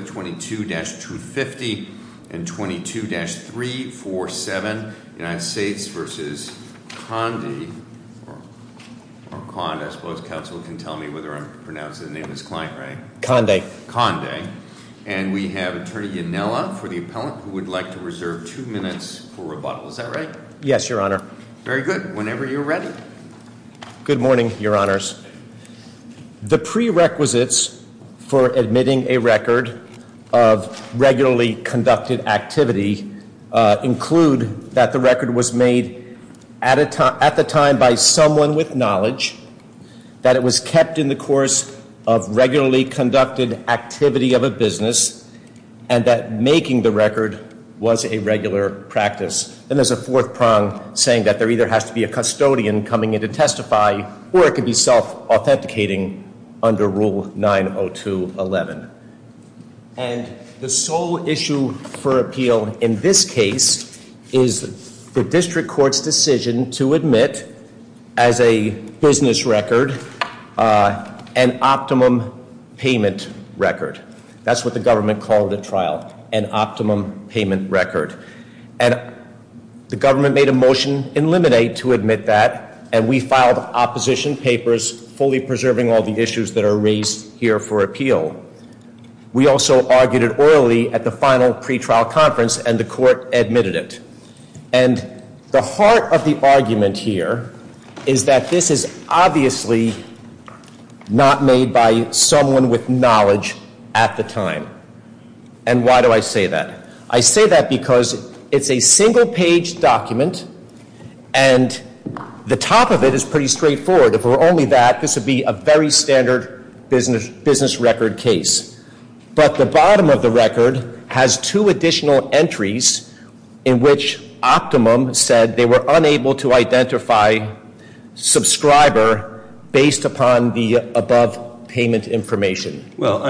22-250 and 22-347 United States v. Conde and we have attorney Yanella for the appellant who would like to reserve two minutes for rebuttal. Is that right? Yes, your honor. Very good. Whenever you're ready. Good morning, your honors. The prerequisites for admitting a record of regularly conducted activity include that the record was made at the time by someone with knowledge, that it was kept in the course of regularly conducted activity of a business, and that making the record was a regular practice. And there's a fourth prong saying that there either has to be a custodian coming in to self-authenticating under Rule 902.11. And the sole issue for appeal in this case is the district court's decision to admit as a business record an optimum payment record. That's what the government called the trial, an optimum payment record. And the government made a motion in limine to admit that and we filed opposition papers fully preserving all the issues that are raised here for appeal. We also argued it orally at the final pretrial conference and the court admitted it. And the heart of the argument here is that this is obviously not made by someone with knowledge at the time. And why do I say that? I say that because it's a single page document and the top of it is pretty straightforward. If it were only that, this would be a very standard business record case. But the bottom of the record has two additional entries in which optimum said they were unable to identify subscriber based upon the above payment information. Well,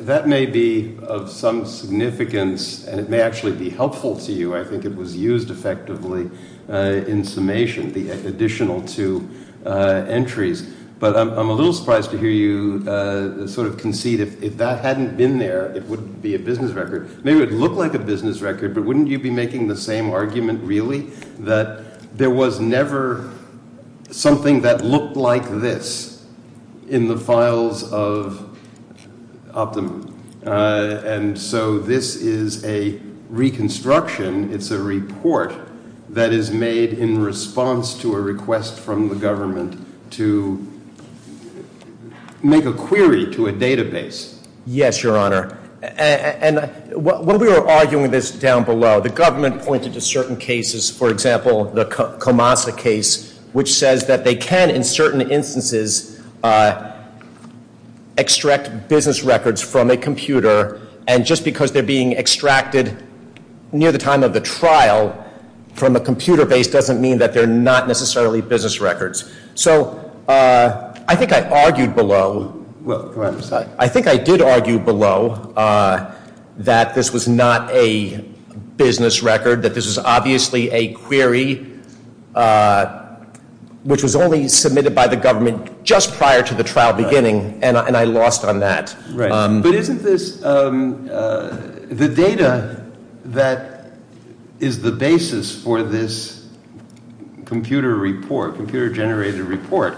that may be of some significance and it may actually be helpful to you. I think it was used effectively in summation, the additional two entries. But I'm a little surprised to hear you sort of concede if that hadn't been there, it wouldn't be a business record. Maybe it would look like a business record, but wouldn't you be making the same argument really? That there was never something that looked like this in the files of optimum. And so this is a reconstruction, it's a report that is made in response to a request from the government to make a query to a database. Yes, your honor. And when we were arguing this down below, the government pointed to certain cases. For example, the Comasa case, which says that they can, in certain instances, extract business records from a computer, and just because they're being extracted near the time of the trial from a computer base doesn't mean that they're not necessarily business records. So I think I argued below, I think I did argue below that this was not a business record, that this was obviously a query which was only submitted by the government just prior to the trial beginning, and I lost on that. Right, but isn't this, the data that is the basis for this computer report, computer generated report,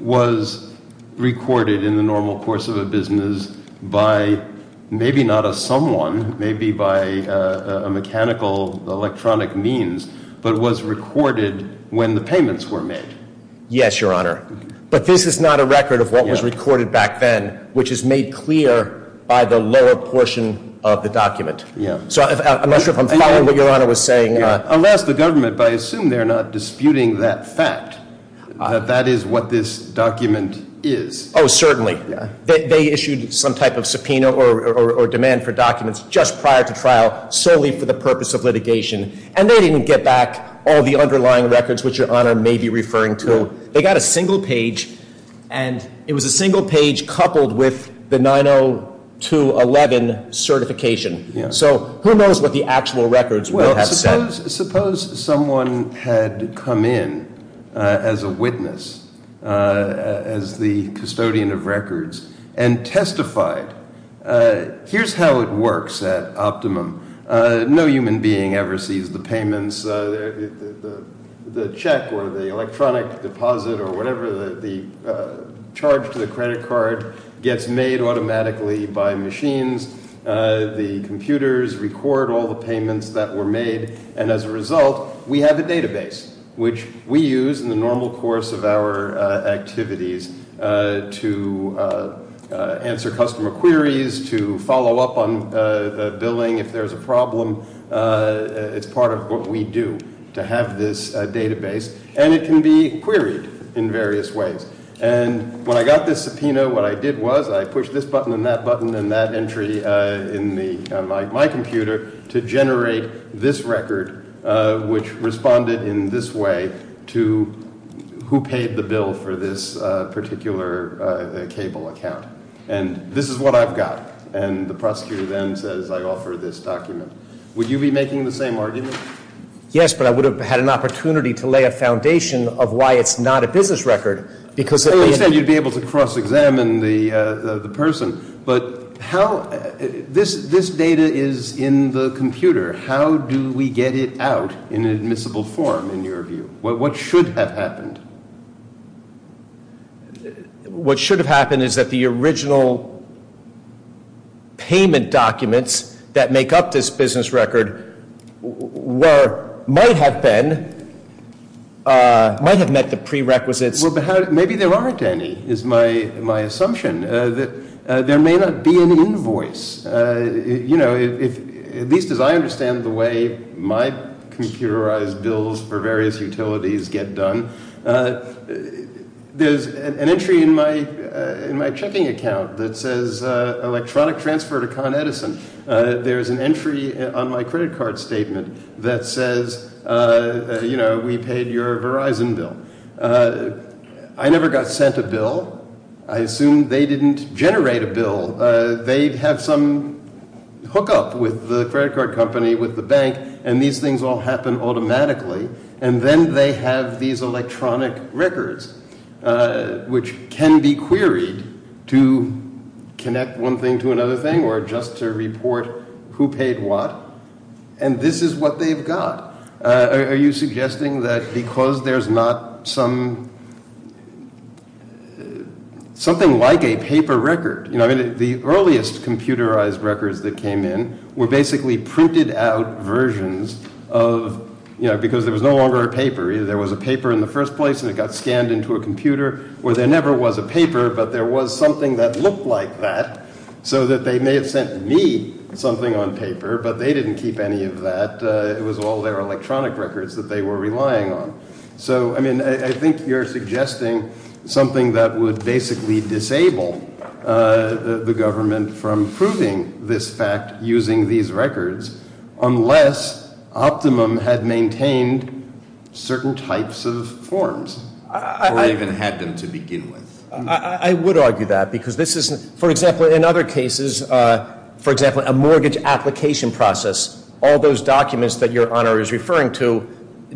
was recorded in the normal course of a business by maybe not a someone, maybe by a mechanical electronic means, but was recorded when the payments were made. Yes, your honor. But this is not a record of what was recorded back then, which is made clear by the lower portion of the document. Yeah. So I'm not sure if I'm following what your honor was saying. Unless the government, but I assume they're not disputing that fact, that that is what this document is. Certainly. They issued some type of subpoena or demand for documents just prior to trial, solely for the purpose of litigation. And they didn't get back all the underlying records which your honor may be referring to. They got a single page, and it was a single page coupled with the 90211 certification. So, who knows what the actual records would have said. Suppose someone had come in as a witness, as the custodian of records, and testified. Here's how it works at Optimum. No human being ever sees the payments, the check or the electronic deposit or whatever, the charge to the credit card gets made automatically by machines. The computers record all the payments that were made, and as a result, we have a database, which we use in the normal course of our activities to answer customer queries, to follow up on billing if there's a problem. It's part of what we do to have this database, and it can be queried in various ways. And when I got this subpoena, what I did was I pushed this button and that button and that entry in my computer to generate this record, which responded in this way to who paid the bill for this particular cable account. And this is what I've got, and the prosecutor then says I offer this document. Would you be making the same argument? Yes, but I would have had an opportunity to lay a foundation of why it's not a business record, because- I understand you'd be able to cross-examine the person, but how, this data is in the computer. How do we get it out in admissible form, in your view? What should have happened? What should have happened is that the original payment documents that make up this business record might have met the prerequisites. Well, but maybe there aren't any, is my assumption, that there may not be an invoice. At least as I understand the way my computerized bills for various utilities get done, there's an entry in my checking account that says electronic transfer to Con Edison. There's an entry on my credit card statement that says we paid your Verizon bill. I never got sent a bill. I assume they didn't generate a bill. They'd have some hook up with the credit card company, with the bank, and these things all happen automatically. And then they have these electronic records, which can be queried to connect one thing to another thing, or just to report who paid what. And this is what they've got. Are you suggesting that because there's not something like a paper record. I mean, the earliest computerized records that came in were basically printed out versions of, because there was no longer a paper. Either there was a paper in the first place and it got scanned into a computer, or there never was a paper. But there was something that looked like that, so that they may have sent me something on paper, but they didn't keep any of that. It was all their electronic records that they were relying on. So, I mean, I think you're suggesting something that would basically disable the government from proving this fact using these records, unless Optimum had maintained certain types of forms. Or even had them to begin with. I would argue that, because this isn't, for example, in other cases, for example, a mortgage application process, all those documents that your honor is referring to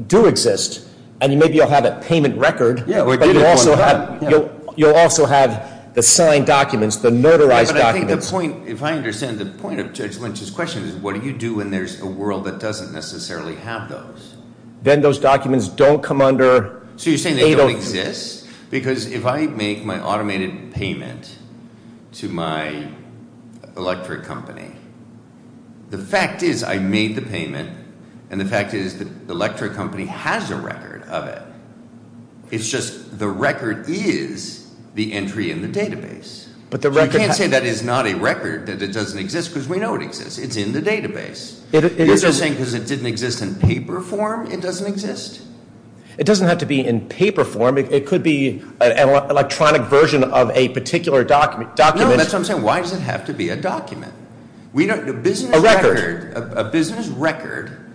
do exist. And maybe you'll have a payment record. Yeah, we do have one. You'll also have the signed documents, the notarized documents. But I think the point, if I understand the point of Judge Lynch's question, is what do you do when there's a world that doesn't necessarily have those? Then those documents don't come under- So you're saying they don't exist? Because if I make my automated payment to my electric company, the fact is I made the payment, and the fact is the electric company has a record of it. It's just the record is the entry in the database. You can't say that is not a record, that it doesn't exist, because we know it exists. It's in the database. You're just saying because it didn't exist in paper form, it doesn't exist? It doesn't have to be in paper form. It could be an electronic version of a particular document. No, that's what I'm saying. Why does it have to be a document? A business record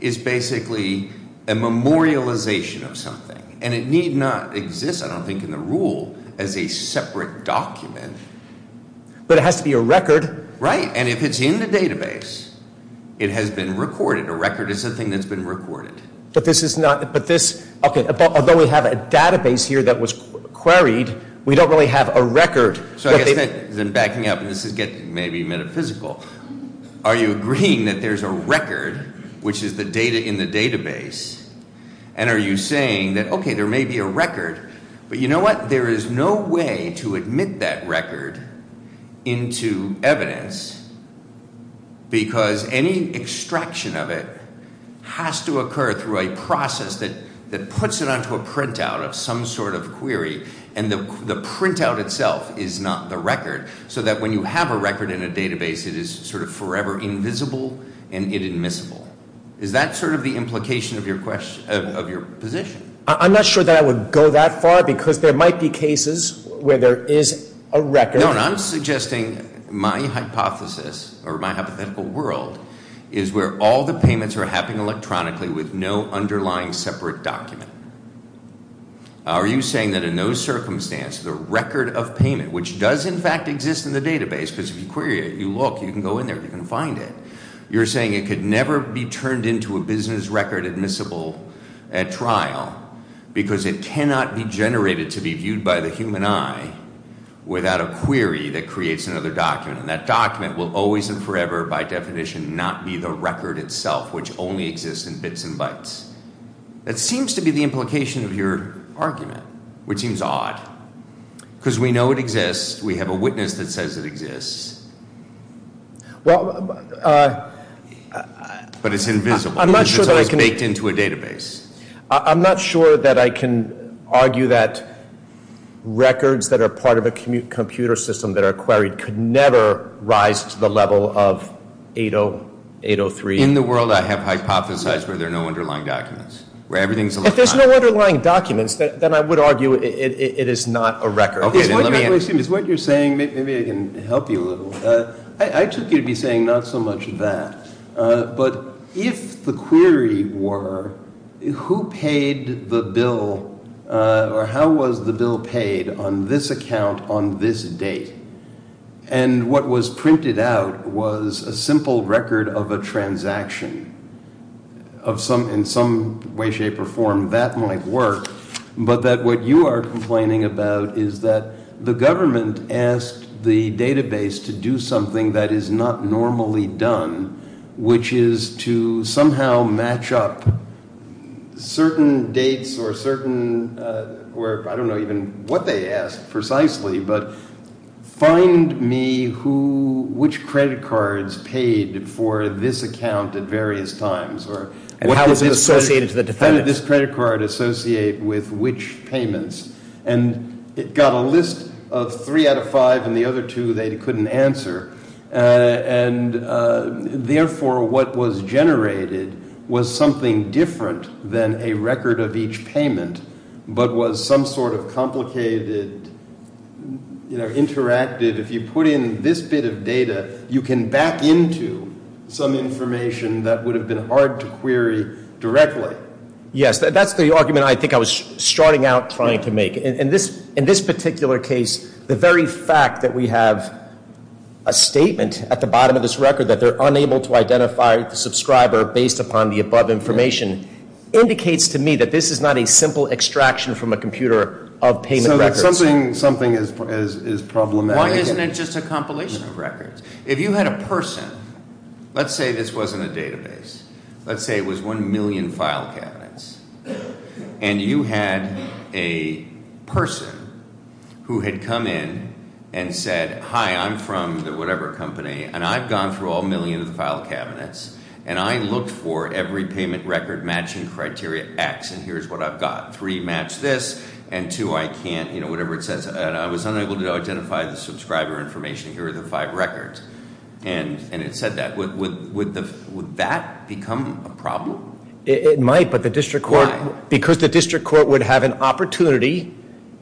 is basically a memorialization of something, and it need not exist, I don't think, in the rule as a separate document. But it has to be a record. Right, and if it's in the database, it has been recorded. A record is something that's been recorded. But this is not, but this, okay, although we have a database here that was queried, we don't really have a record. So I guess that, then backing up, and this is getting maybe metaphysical. Are you agreeing that there's a record, which is the data in the database? And are you saying that, okay, there may be a record, but you know what? There is no way to admit that record into evidence, because any extraction of it has to occur through a process that puts it onto a printout of some sort of query. And the printout itself is not the record, so that when you have a record in a database, it is sort of forever invisible and inadmissible. Is that sort of the implication of your position? I'm not sure that I would go that far, because there might be cases where there is a record. No, and I'm suggesting my hypothesis, or my hypothetical world, is where all the payments are happening electronically with no underlying separate document. Are you saying that in those circumstances, the record of payment, which does in fact exist in the database, because if you query it, you look, you can go in there, you can find it. You're saying it could never be turned into a business record admissible at trial, because it cannot be generated to be viewed by the human eye without a query that creates another document. And that document will always and forever, by definition, not be the record itself, which only exists in bits and bytes. That seems to be the implication of your argument, which seems odd, because we know it exists. We have a witness that says it exists. Well- But it's invisible. I'm not sure that I can- It's baked into a database. I'm not sure that I can argue that records that are part of a computer system that are queried could never rise to the level of 803- In the world I have hypothesized where there are no underlying documents, where everything's electronic. If there's no underlying documents, then I would argue it is not a record. Excuse me. It's what you're saying. Maybe I can help you a little. I took you to be saying not so much that, but if the query were who paid the bill or how was the bill paid on this account on this date, and what was printed out was a simple record of a transaction in some way, shape, or form, that might work, but that what you are complaining about is that the government asked the database to do something that is not normally done, which is to somehow match up certain dates or certain- I don't know even what they asked precisely, but find me which credit cards paid for this account at various times. And how is it associated to the defendant? How did this credit card associate with which payments? And it got a list of three out of five, and the other two they couldn't answer. And therefore, what was generated was something different than a record of each payment, but was some sort of complicated, you know, interacted- Yes, that's the argument I think I was starting out trying to make. In this particular case, the very fact that we have a statement at the bottom of this record that they're unable to identify the subscriber based upon the above information indicates to me that this is not a simple extraction from a computer of payment records. So something is problematic. Why isn't it just a compilation of records? If you had a person-let's say this wasn't a database. Let's say it was one million file cabinets. And you had a person who had come in and said, Hi, I'm from the whatever company, and I've gone through all million of the file cabinets, and I looked for every payment record matching criteria X, and here's what I've got. Three match this, and two I can't, you know, whatever it says. And I was unable to identify the subscriber information. Here are the five records. And it said that. Would that become a problem? It might, but the district court- Why? Because the district court would have an opportunity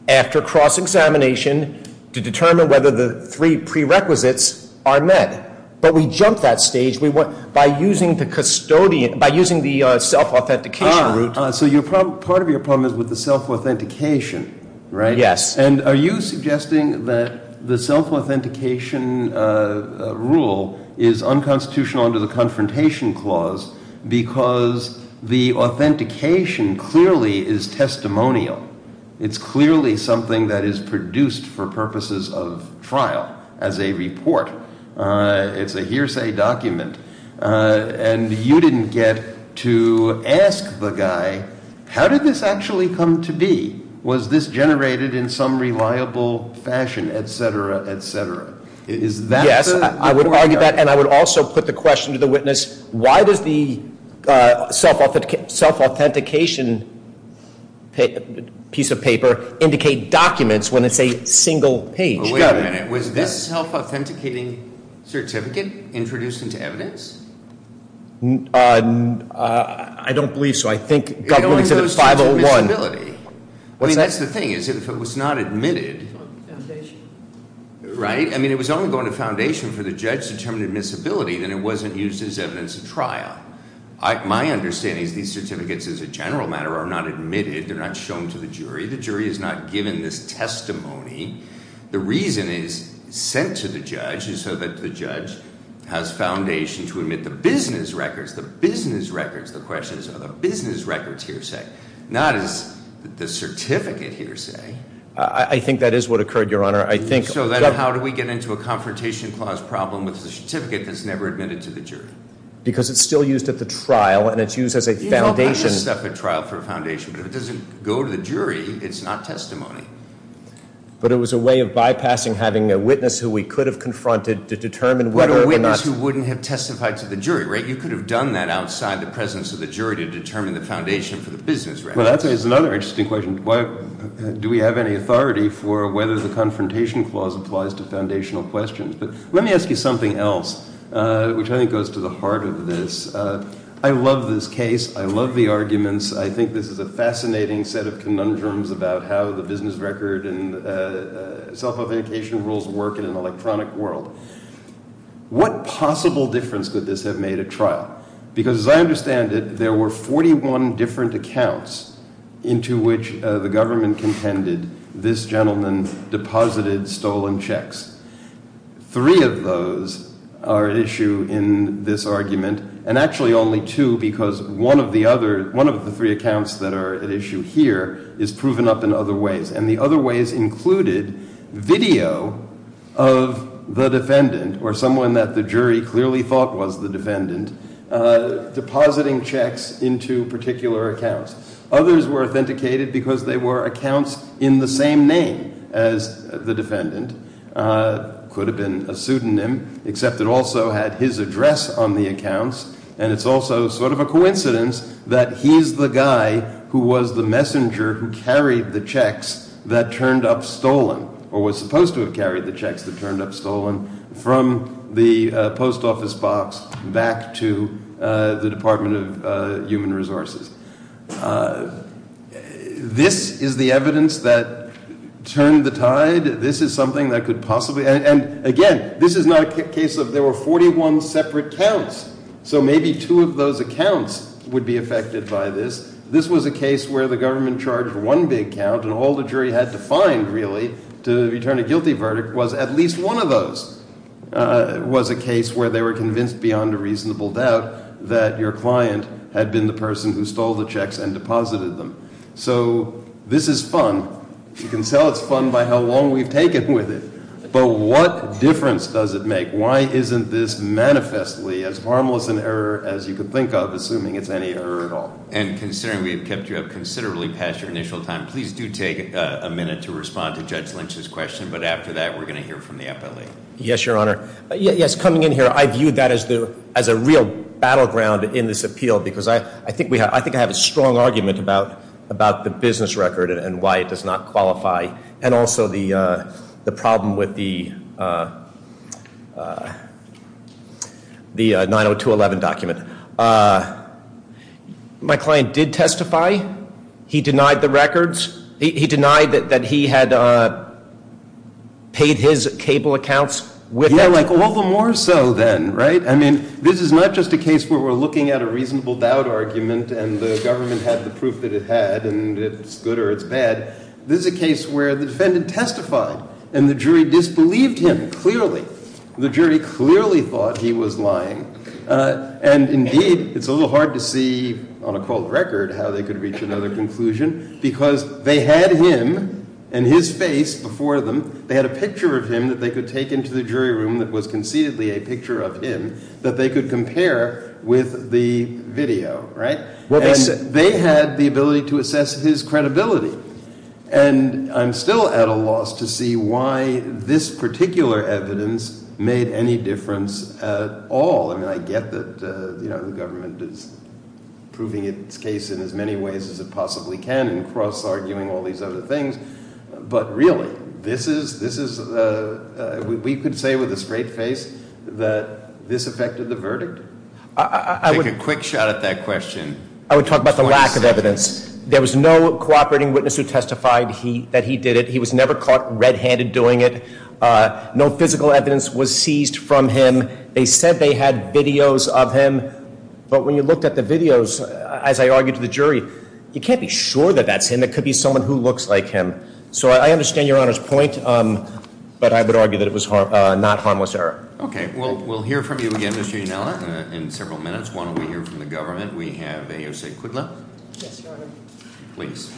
after cross-examination to determine whether the three prerequisites are met. But we jumped that stage by using the self-authentication route. So part of your problem is with the self-authentication, right? Yes. And are you suggesting that the self-authentication rule is unconstitutional under the confrontation clause because the authentication clearly is testimonial? It's clearly something that is produced for purposes of trial as a report. It's a hearsay document. And you didn't get to ask the guy, how did this actually come to be? Was this generated in some reliable fashion, et cetera, et cetera? Is that the- Yes, I would argue that. And I would also put the question to the witness, why does the self-authentication piece of paper indicate documents when it's a single page? Wait a minute. Was this self-authenticating certificate introduced into evidence? I don't believe so. I think government said it's 501. It only goes to admissibility. That's the thing. If it was not admitted, right? I mean, if it was only going to foundation for the judge to determine admissibility, then it wasn't used as evidence at trial. My understanding is these certificates, as a general matter, are not admitted. They're not shown to the jury. The jury is not given this testimony. The reason it's sent to the judge is so that the judge has foundation to admit the business records. The business records, the question is, are the business records hearsay? Not is the certificate hearsay. I think that is what occurred, Your Honor. I think- So then how do we get into a confrontation clause problem with the certificate that's never admitted to the jury? Because it's still used at the trial, and it's used as a foundation. You know, I use stuff at trial for a foundation. But if it doesn't go to the jury, it's not testimony. But it was a way of bypassing having a witness who we could have confronted to determine whether or not- But a witness who wouldn't have testified to the jury, right? You could have done that outside the presence of the jury to determine the foundation for the business records. Well, that's another interesting question. Do we have any authority for whether the confrontation clause applies to foundational questions? But let me ask you something else, which I think goes to the heart of this. I love this case. I love the arguments. I think this is a fascinating set of conundrums about how the business record and self-authentication rules work in an electronic world. What possible difference could this have made at trial? Because as I understand it, there were 41 different accounts into which the government contended this gentleman deposited stolen checks. Three of those are at issue in this argument, and actually only two because one of the other- one of the three accounts that are at issue here is proven up in other ways. And the other ways included video of the defendant or someone that the jury clearly thought was the defendant depositing checks into particular accounts. Others were authenticated because they were accounts in the same name as the defendant. It could have been a pseudonym, except it also had his address on the accounts. And it's also sort of a coincidence that he's the guy who was the messenger who carried the checks that turned up stolen, or was supposed to have carried the checks that turned up stolen, from the post office box back to the Department of Human Resources. This is the evidence that turned the tide. This is something that could possibly- and again, this is not a case of there were 41 separate counts. So maybe two of those accounts would be affected by this. This was a case where the government charged one big count, and all the jury had to find, really, to return a guilty verdict was at least one of those. It was a case where they were convinced beyond a reasonable doubt that your client had been the person who stole the checks and deposited them. So this is fun. You can tell it's fun by how long we've taken with it. But what difference does it make? Why isn't this manifestly as harmless an error as you could think of, assuming it's any error at all? And considering we have kept you up considerably past your initial time, please do take a minute to respond to Judge Lynch's question. But after that, we're going to hear from the appellee. Yes, Your Honor. Yes, coming in here, I viewed that as a real battleground in this appeal, because I think I have a strong argument about the business record and why it does not qualify, and also the problem with the 902.11 document. My client did testify. He denied the records. He denied that he had paid his cable accounts with it. Yeah, like all the more so then, right? I mean, this is not just a case where we're looking at a reasonable doubt argument, and the government had the proof that it had, and it's good or it's bad. This is a case where the defendant testified, and the jury disbelieved him clearly. The jury clearly thought he was lying. And indeed, it's a little hard to see on a cold record how they could reach another conclusion, because they had him and his face before them. They had a picture of him that they could take into the jury room that was conceitedly a picture of him that they could compare with the video, right? And they had the ability to assess his credibility. And I'm still at a loss to see why this particular evidence made any difference at all. I mean, I get that the government is proving its case in as many ways as it possibly can and cross-arguing all these other things, but really, this is – we could say with a straight face that this affected the verdict? Take a quick shot at that question. I would talk about the lack of evidence. There was no cooperating witness who testified that he did it. He was never caught red-handed doing it. No physical evidence was seized from him. They said they had videos of him, but when you looked at the videos, as I argued to the jury, you can't be sure that that's him. It could be someone who looks like him. So I understand Your Honor's point, but I would argue that it was not harmless error. Okay. We'll hear from you again, Mr. Yunella, in several minutes. Why don't we hear from the government? We have AOC Kudlow. Yes, Your Honor. Please.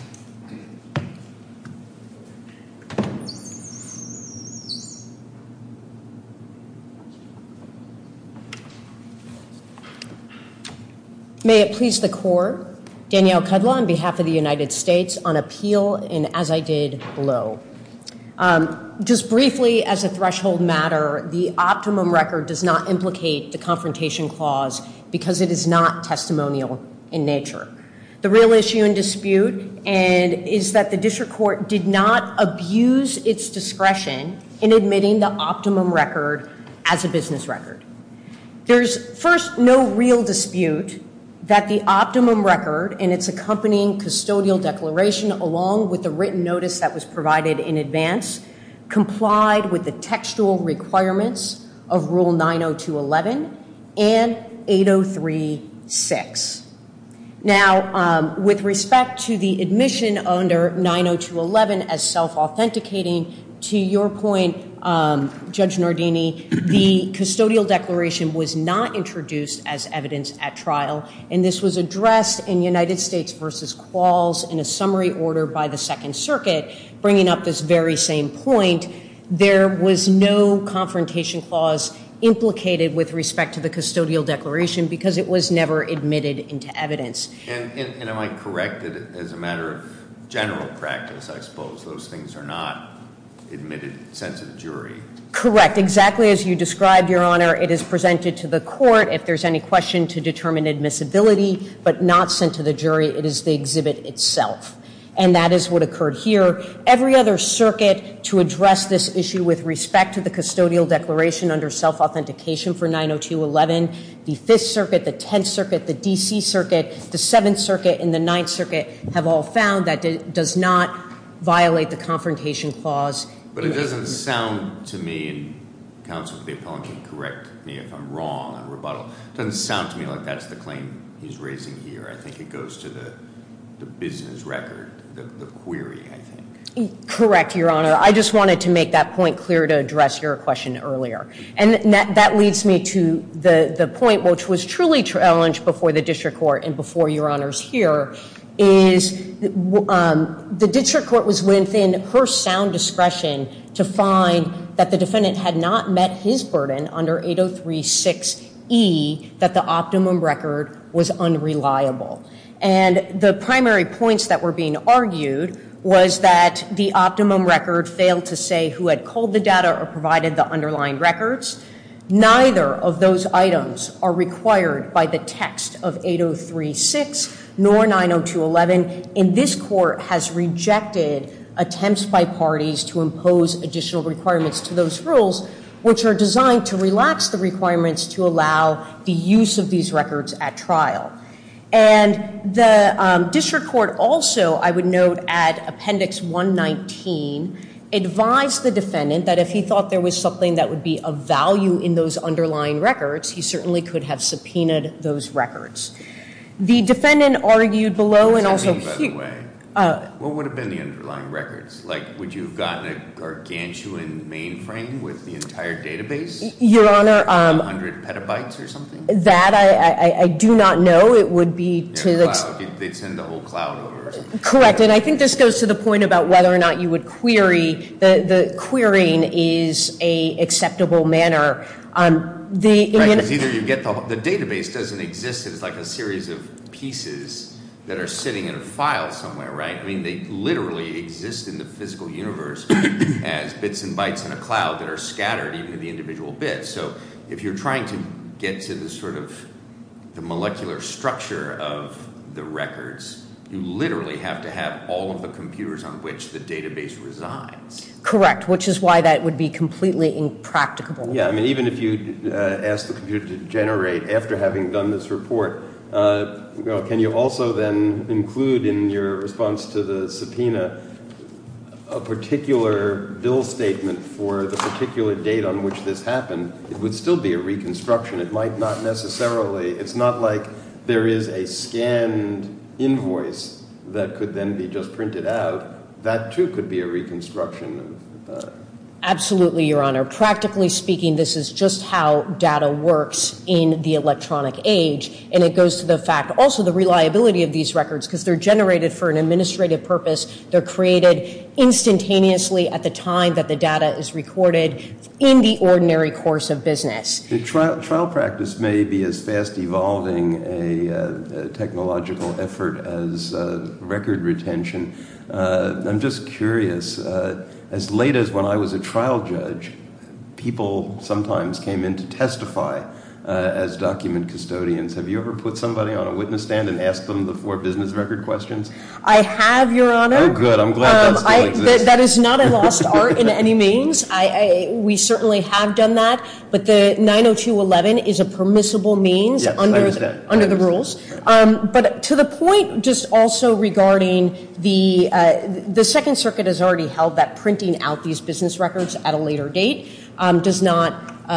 May it please the Court. Danielle Kudlow on behalf of the United States on appeal in as I did below. Just briefly as a threshold matter, the optimum record does not implicate the confrontation clause because it is not testimonial in nature. The real issue and dispute is that the district court did not abuse its discretion in admitting the optimum record as a business record. There's, first, no real dispute that the optimum record and its accompanying custodial declaration along with the written notice that was provided in advance complied with the textual requirements of Rule 902.11 and 803.6. Now, with respect to the admission under 902.11 as self-authenticating, to your point, Judge Nardini, the custodial declaration was not introduced as evidence at trial, and this was addressed in United States v. Qualls in a summary order by the Second Circuit, bringing up this very same point. There was no confrontation clause implicated with respect to the custodial declaration because it was never admitted into evidence. And am I correct that as a matter of general practice, I suppose, those things are not admitted since the jury? Correct. Exactly as you described, Your Honor. It is presented to the court. If there's any question to determine admissibility but not sent to the jury, it is the exhibit itself. And that is what occurred here. Every other circuit to address this issue with respect to the custodial declaration under self-authentication for 902.11, the Fifth Circuit, the Tenth Circuit, the D.C. Circuit, the Seventh Circuit, and the Ninth Circuit have all found that it does not violate the confrontation clause. But it doesn't sound to me, and counsel to the appellant can correct me if I'm wrong on rebuttal, it doesn't sound to me like that's the claim he's raising here. I think it goes to the business record, the query, I think. Correct, Your Honor. I just wanted to make that point clear to address your question earlier. And that leads me to the point which was truly challenged before the district court and before Your Honors here, is the district court was within her sound discretion to find that the defendant had not met his burden under 803.6e, that the optimum record was unreliable. And the primary points that were being argued was that the optimum record failed to say who had culled the data or provided the underlying records. Neither of those items are required by the text of 803.6, nor 902.11. And this court has rejected attempts by parties to impose additional requirements to those rules, which are designed to relax the requirements to allow the use of these records at trial. And the district court also, I would note, at Appendix 119, advised the defendant that if he thought there was something that would be of value in those underlying records, he certainly could have subpoenaed those records. The defendant argued below and also here. What would have been the underlying records? Like would you have gotten a gargantuan mainframe with the entire database? Your Honor. A hundred petabytes or something? That I do not know. It would be to the. They'd send the whole cloud over. Correct, and I think this goes to the point about whether or not you would query. The querying is an acceptable manner. The database doesn't exist as like a series of pieces that are sitting in a file somewhere, right? I mean, they literally exist in the physical universe as bits and bytes in a cloud that are scattered even in the individual bits. So if you're trying to get to the sort of molecular structure of the records, you literally have to have all of the computers on which the database resides. Correct, which is why that would be completely impracticable. Yeah, I mean, even if you ask the computer to generate after having done this report, can you also then include in your response to the subpoena a particular bill statement for the particular date on which this happened? It would still be a reconstruction. It might not necessarily. It's not like there is a scanned invoice that could then be just printed out. That, too, could be a reconstruction. Absolutely, Your Honor. Practically speaking, this is just how data works in the electronic age, and it goes to the fact also the reliability of these records because they're generated for an administrative purpose. They're created instantaneously at the time that the data is recorded in the ordinary course of business. Trial practice may be as fast evolving a technological effort as record retention. I'm just curious. As late as when I was a trial judge, people sometimes came in to testify as document custodians. Have you ever put somebody on a witness stand and asked them the four business record questions? I have, Your Honor. Oh, good. I'm glad that still exists. That is not a lost art in any means. We certainly have done that, but the 90211 is a permissible means under the rules. Yes, I understand. But to the point just also regarding the Second Circuit has already held that printing out these business records at a later date does not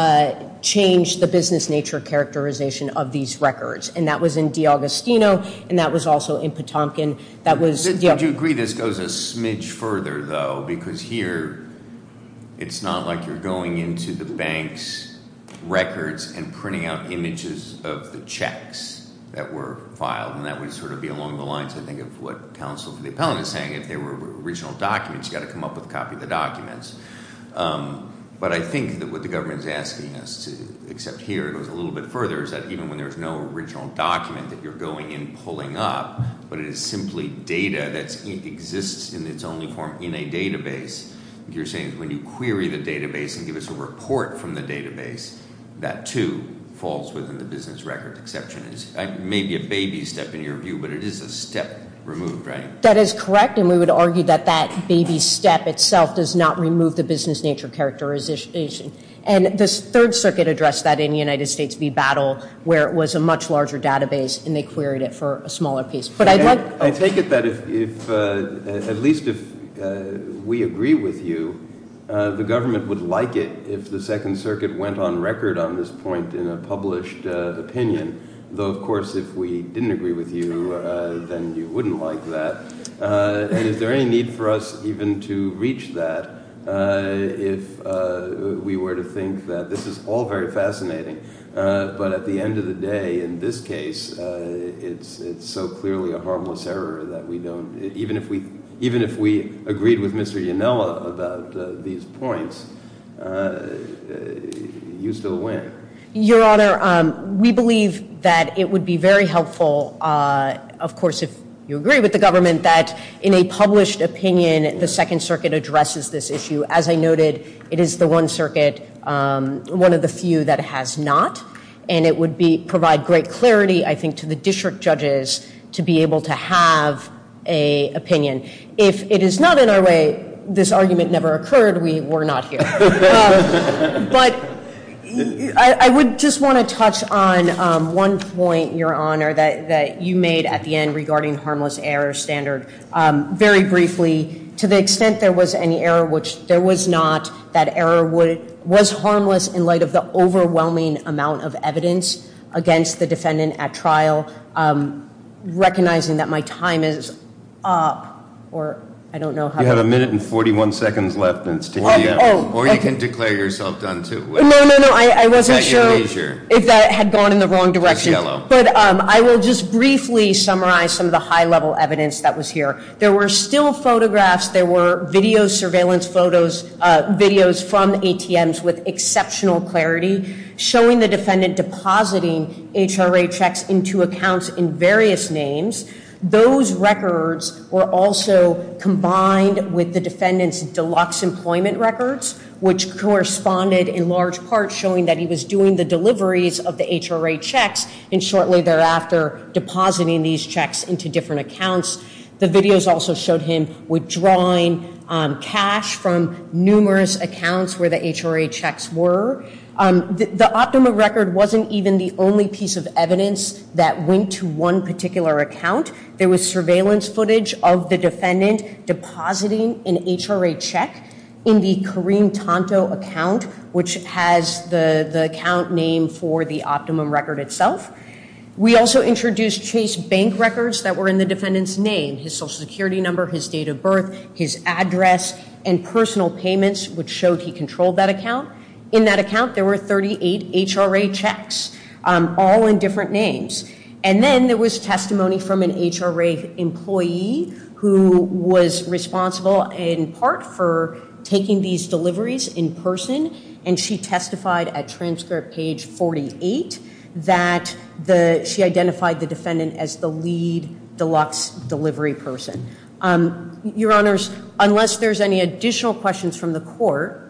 change the business nature characterization of these records, and that was in DeAugustino, and that was also in Potomkin. To a degree, this goes a smidge further, though, because here it's not like you're going into the banks' records and printing out images of the checks that were filed, and that would sort of be along the lines, I think, of what counsel for the appellant is saying. If they were original documents, you've got to come up with a copy of the documents. But I think that what the government is asking us to accept here goes a little bit further, is that even when there's no original document that you're going and pulling up, but it is simply data that exists in its only form in a database, you're saying when you query the database and give us a report from the database, that, too, falls within the business record exception. It may be a baby step in your view, but it is a step removed, right? That is correct, and we would argue that that baby step itself does not remove the business nature characterization. And the Third Circuit addressed that in the United States v. Battle, where it was a much larger database, and they queried it for a smaller piece. But I'd like to- I take it that if, at least if we agree with you, the government would like it if the Second Circuit went on record on this point in a published opinion, though, of course, if we didn't agree with you, then you wouldn't like that. And is there any need for us even to reach that if we were to think that this is all very fascinating? But at the end of the day, in this case, it's so clearly a harmless error that we don't- even if we agreed with Mr. Yanella about these points, you still win. Your Honor, we believe that it would be very helpful, of course, if you agree with the government, that in a published opinion, the Second Circuit addresses this issue. As I noted, it is the One Circuit, one of the few that has not, and it would provide great clarity, I think, to the district judges to be able to have an opinion. If it is not in our way, this argument never occurred. We're not here. But I would just want to touch on one point, Your Honor, that you made at the end regarding harmless error standard. Very briefly, to the extent there was any error, which there was not, that error was harmless in light of the overwhelming amount of evidence against the defendant at trial. Recognizing that my time is up, or I don't know how- You have a minute and 41 seconds left. Or you can declare yourself done, too. No, no, no, I wasn't sure if that had gone in the wrong direction. But I will just briefly summarize some of the high-level evidence that was here. There were still photographs. There were video surveillance photos, videos from ATMs with exceptional clarity showing the defendant depositing HRA checks into accounts in various names. Those records were also combined with the defendant's deluxe employment records, which corresponded in large part showing that he was doing the deliveries of the HRA checks and shortly thereafter depositing these checks into different accounts. The videos also showed him withdrawing cash from numerous accounts where the HRA checks were. The optimum record wasn't even the only piece of evidence that went to one particular account. There was surveillance footage of the defendant depositing an HRA check in the Kareem Tonto account, which has the account name for the optimum record itself. We also introduced Chase Bank records that were in the defendant's name, his Social Security number, his date of birth, his address, and personal payments, which showed he controlled that account. In that account, there were 38 HRA checks, all in different names. And then there was testimony from an HRA employee who was responsible in part for taking these deliveries in person, and she testified at transcript page 48 that she identified the defendant as the lead deluxe delivery person. Your Honors, unless there's any additional questions from the court.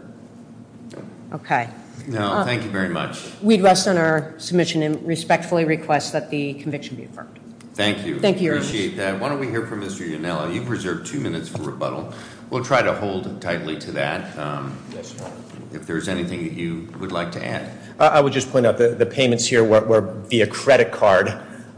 Okay. No, thank you very much. We'd rest on our submission and respectfully request that the conviction be affirmed. Thank you. Thank you. Appreciate that. Why don't we hear from Mr. Yonella? You've reserved two minutes for rebuttal. We'll try to hold tightly to that. Yes, Your Honor. If there's anything that you would like to add. I would just point out the payments here were via credit card.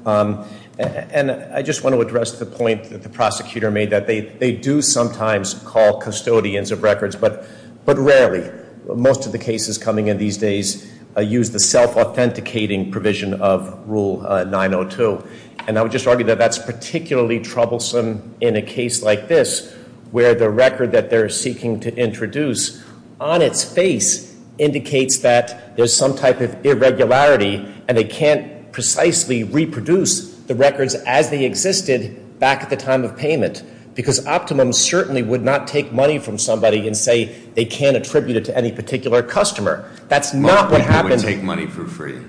And I just want to address the point that the prosecutor made, that they do sometimes call custodians of records, but rarely. Most of the cases coming in these days use the self-authenticating provision of Rule 902. And I would just argue that that's particularly troublesome in a case like this, where the record that they're seeking to introduce on its face indicates that there's some type of irregularity, and they can't precisely reproduce the records as they existed back at the time of payment. Because Optimum certainly would not take money from somebody and say they can't attribute it to any particular customer. That's not what happens. Optimum would take money for free.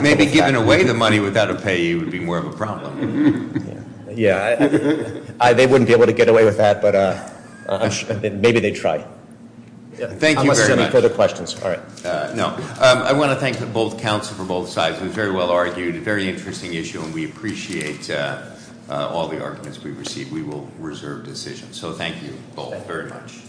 Maybe giving away the money without a payee would be more of a problem. Yeah. They wouldn't be able to get away with that, but maybe they'd try. Thank you very much. Unless there are any further questions. All right. No. I want to thank both counsel for both sides. It was very well argued, a very interesting issue, and we appreciate all the arguments we've received. We will reserve decisions. So thank you both very much.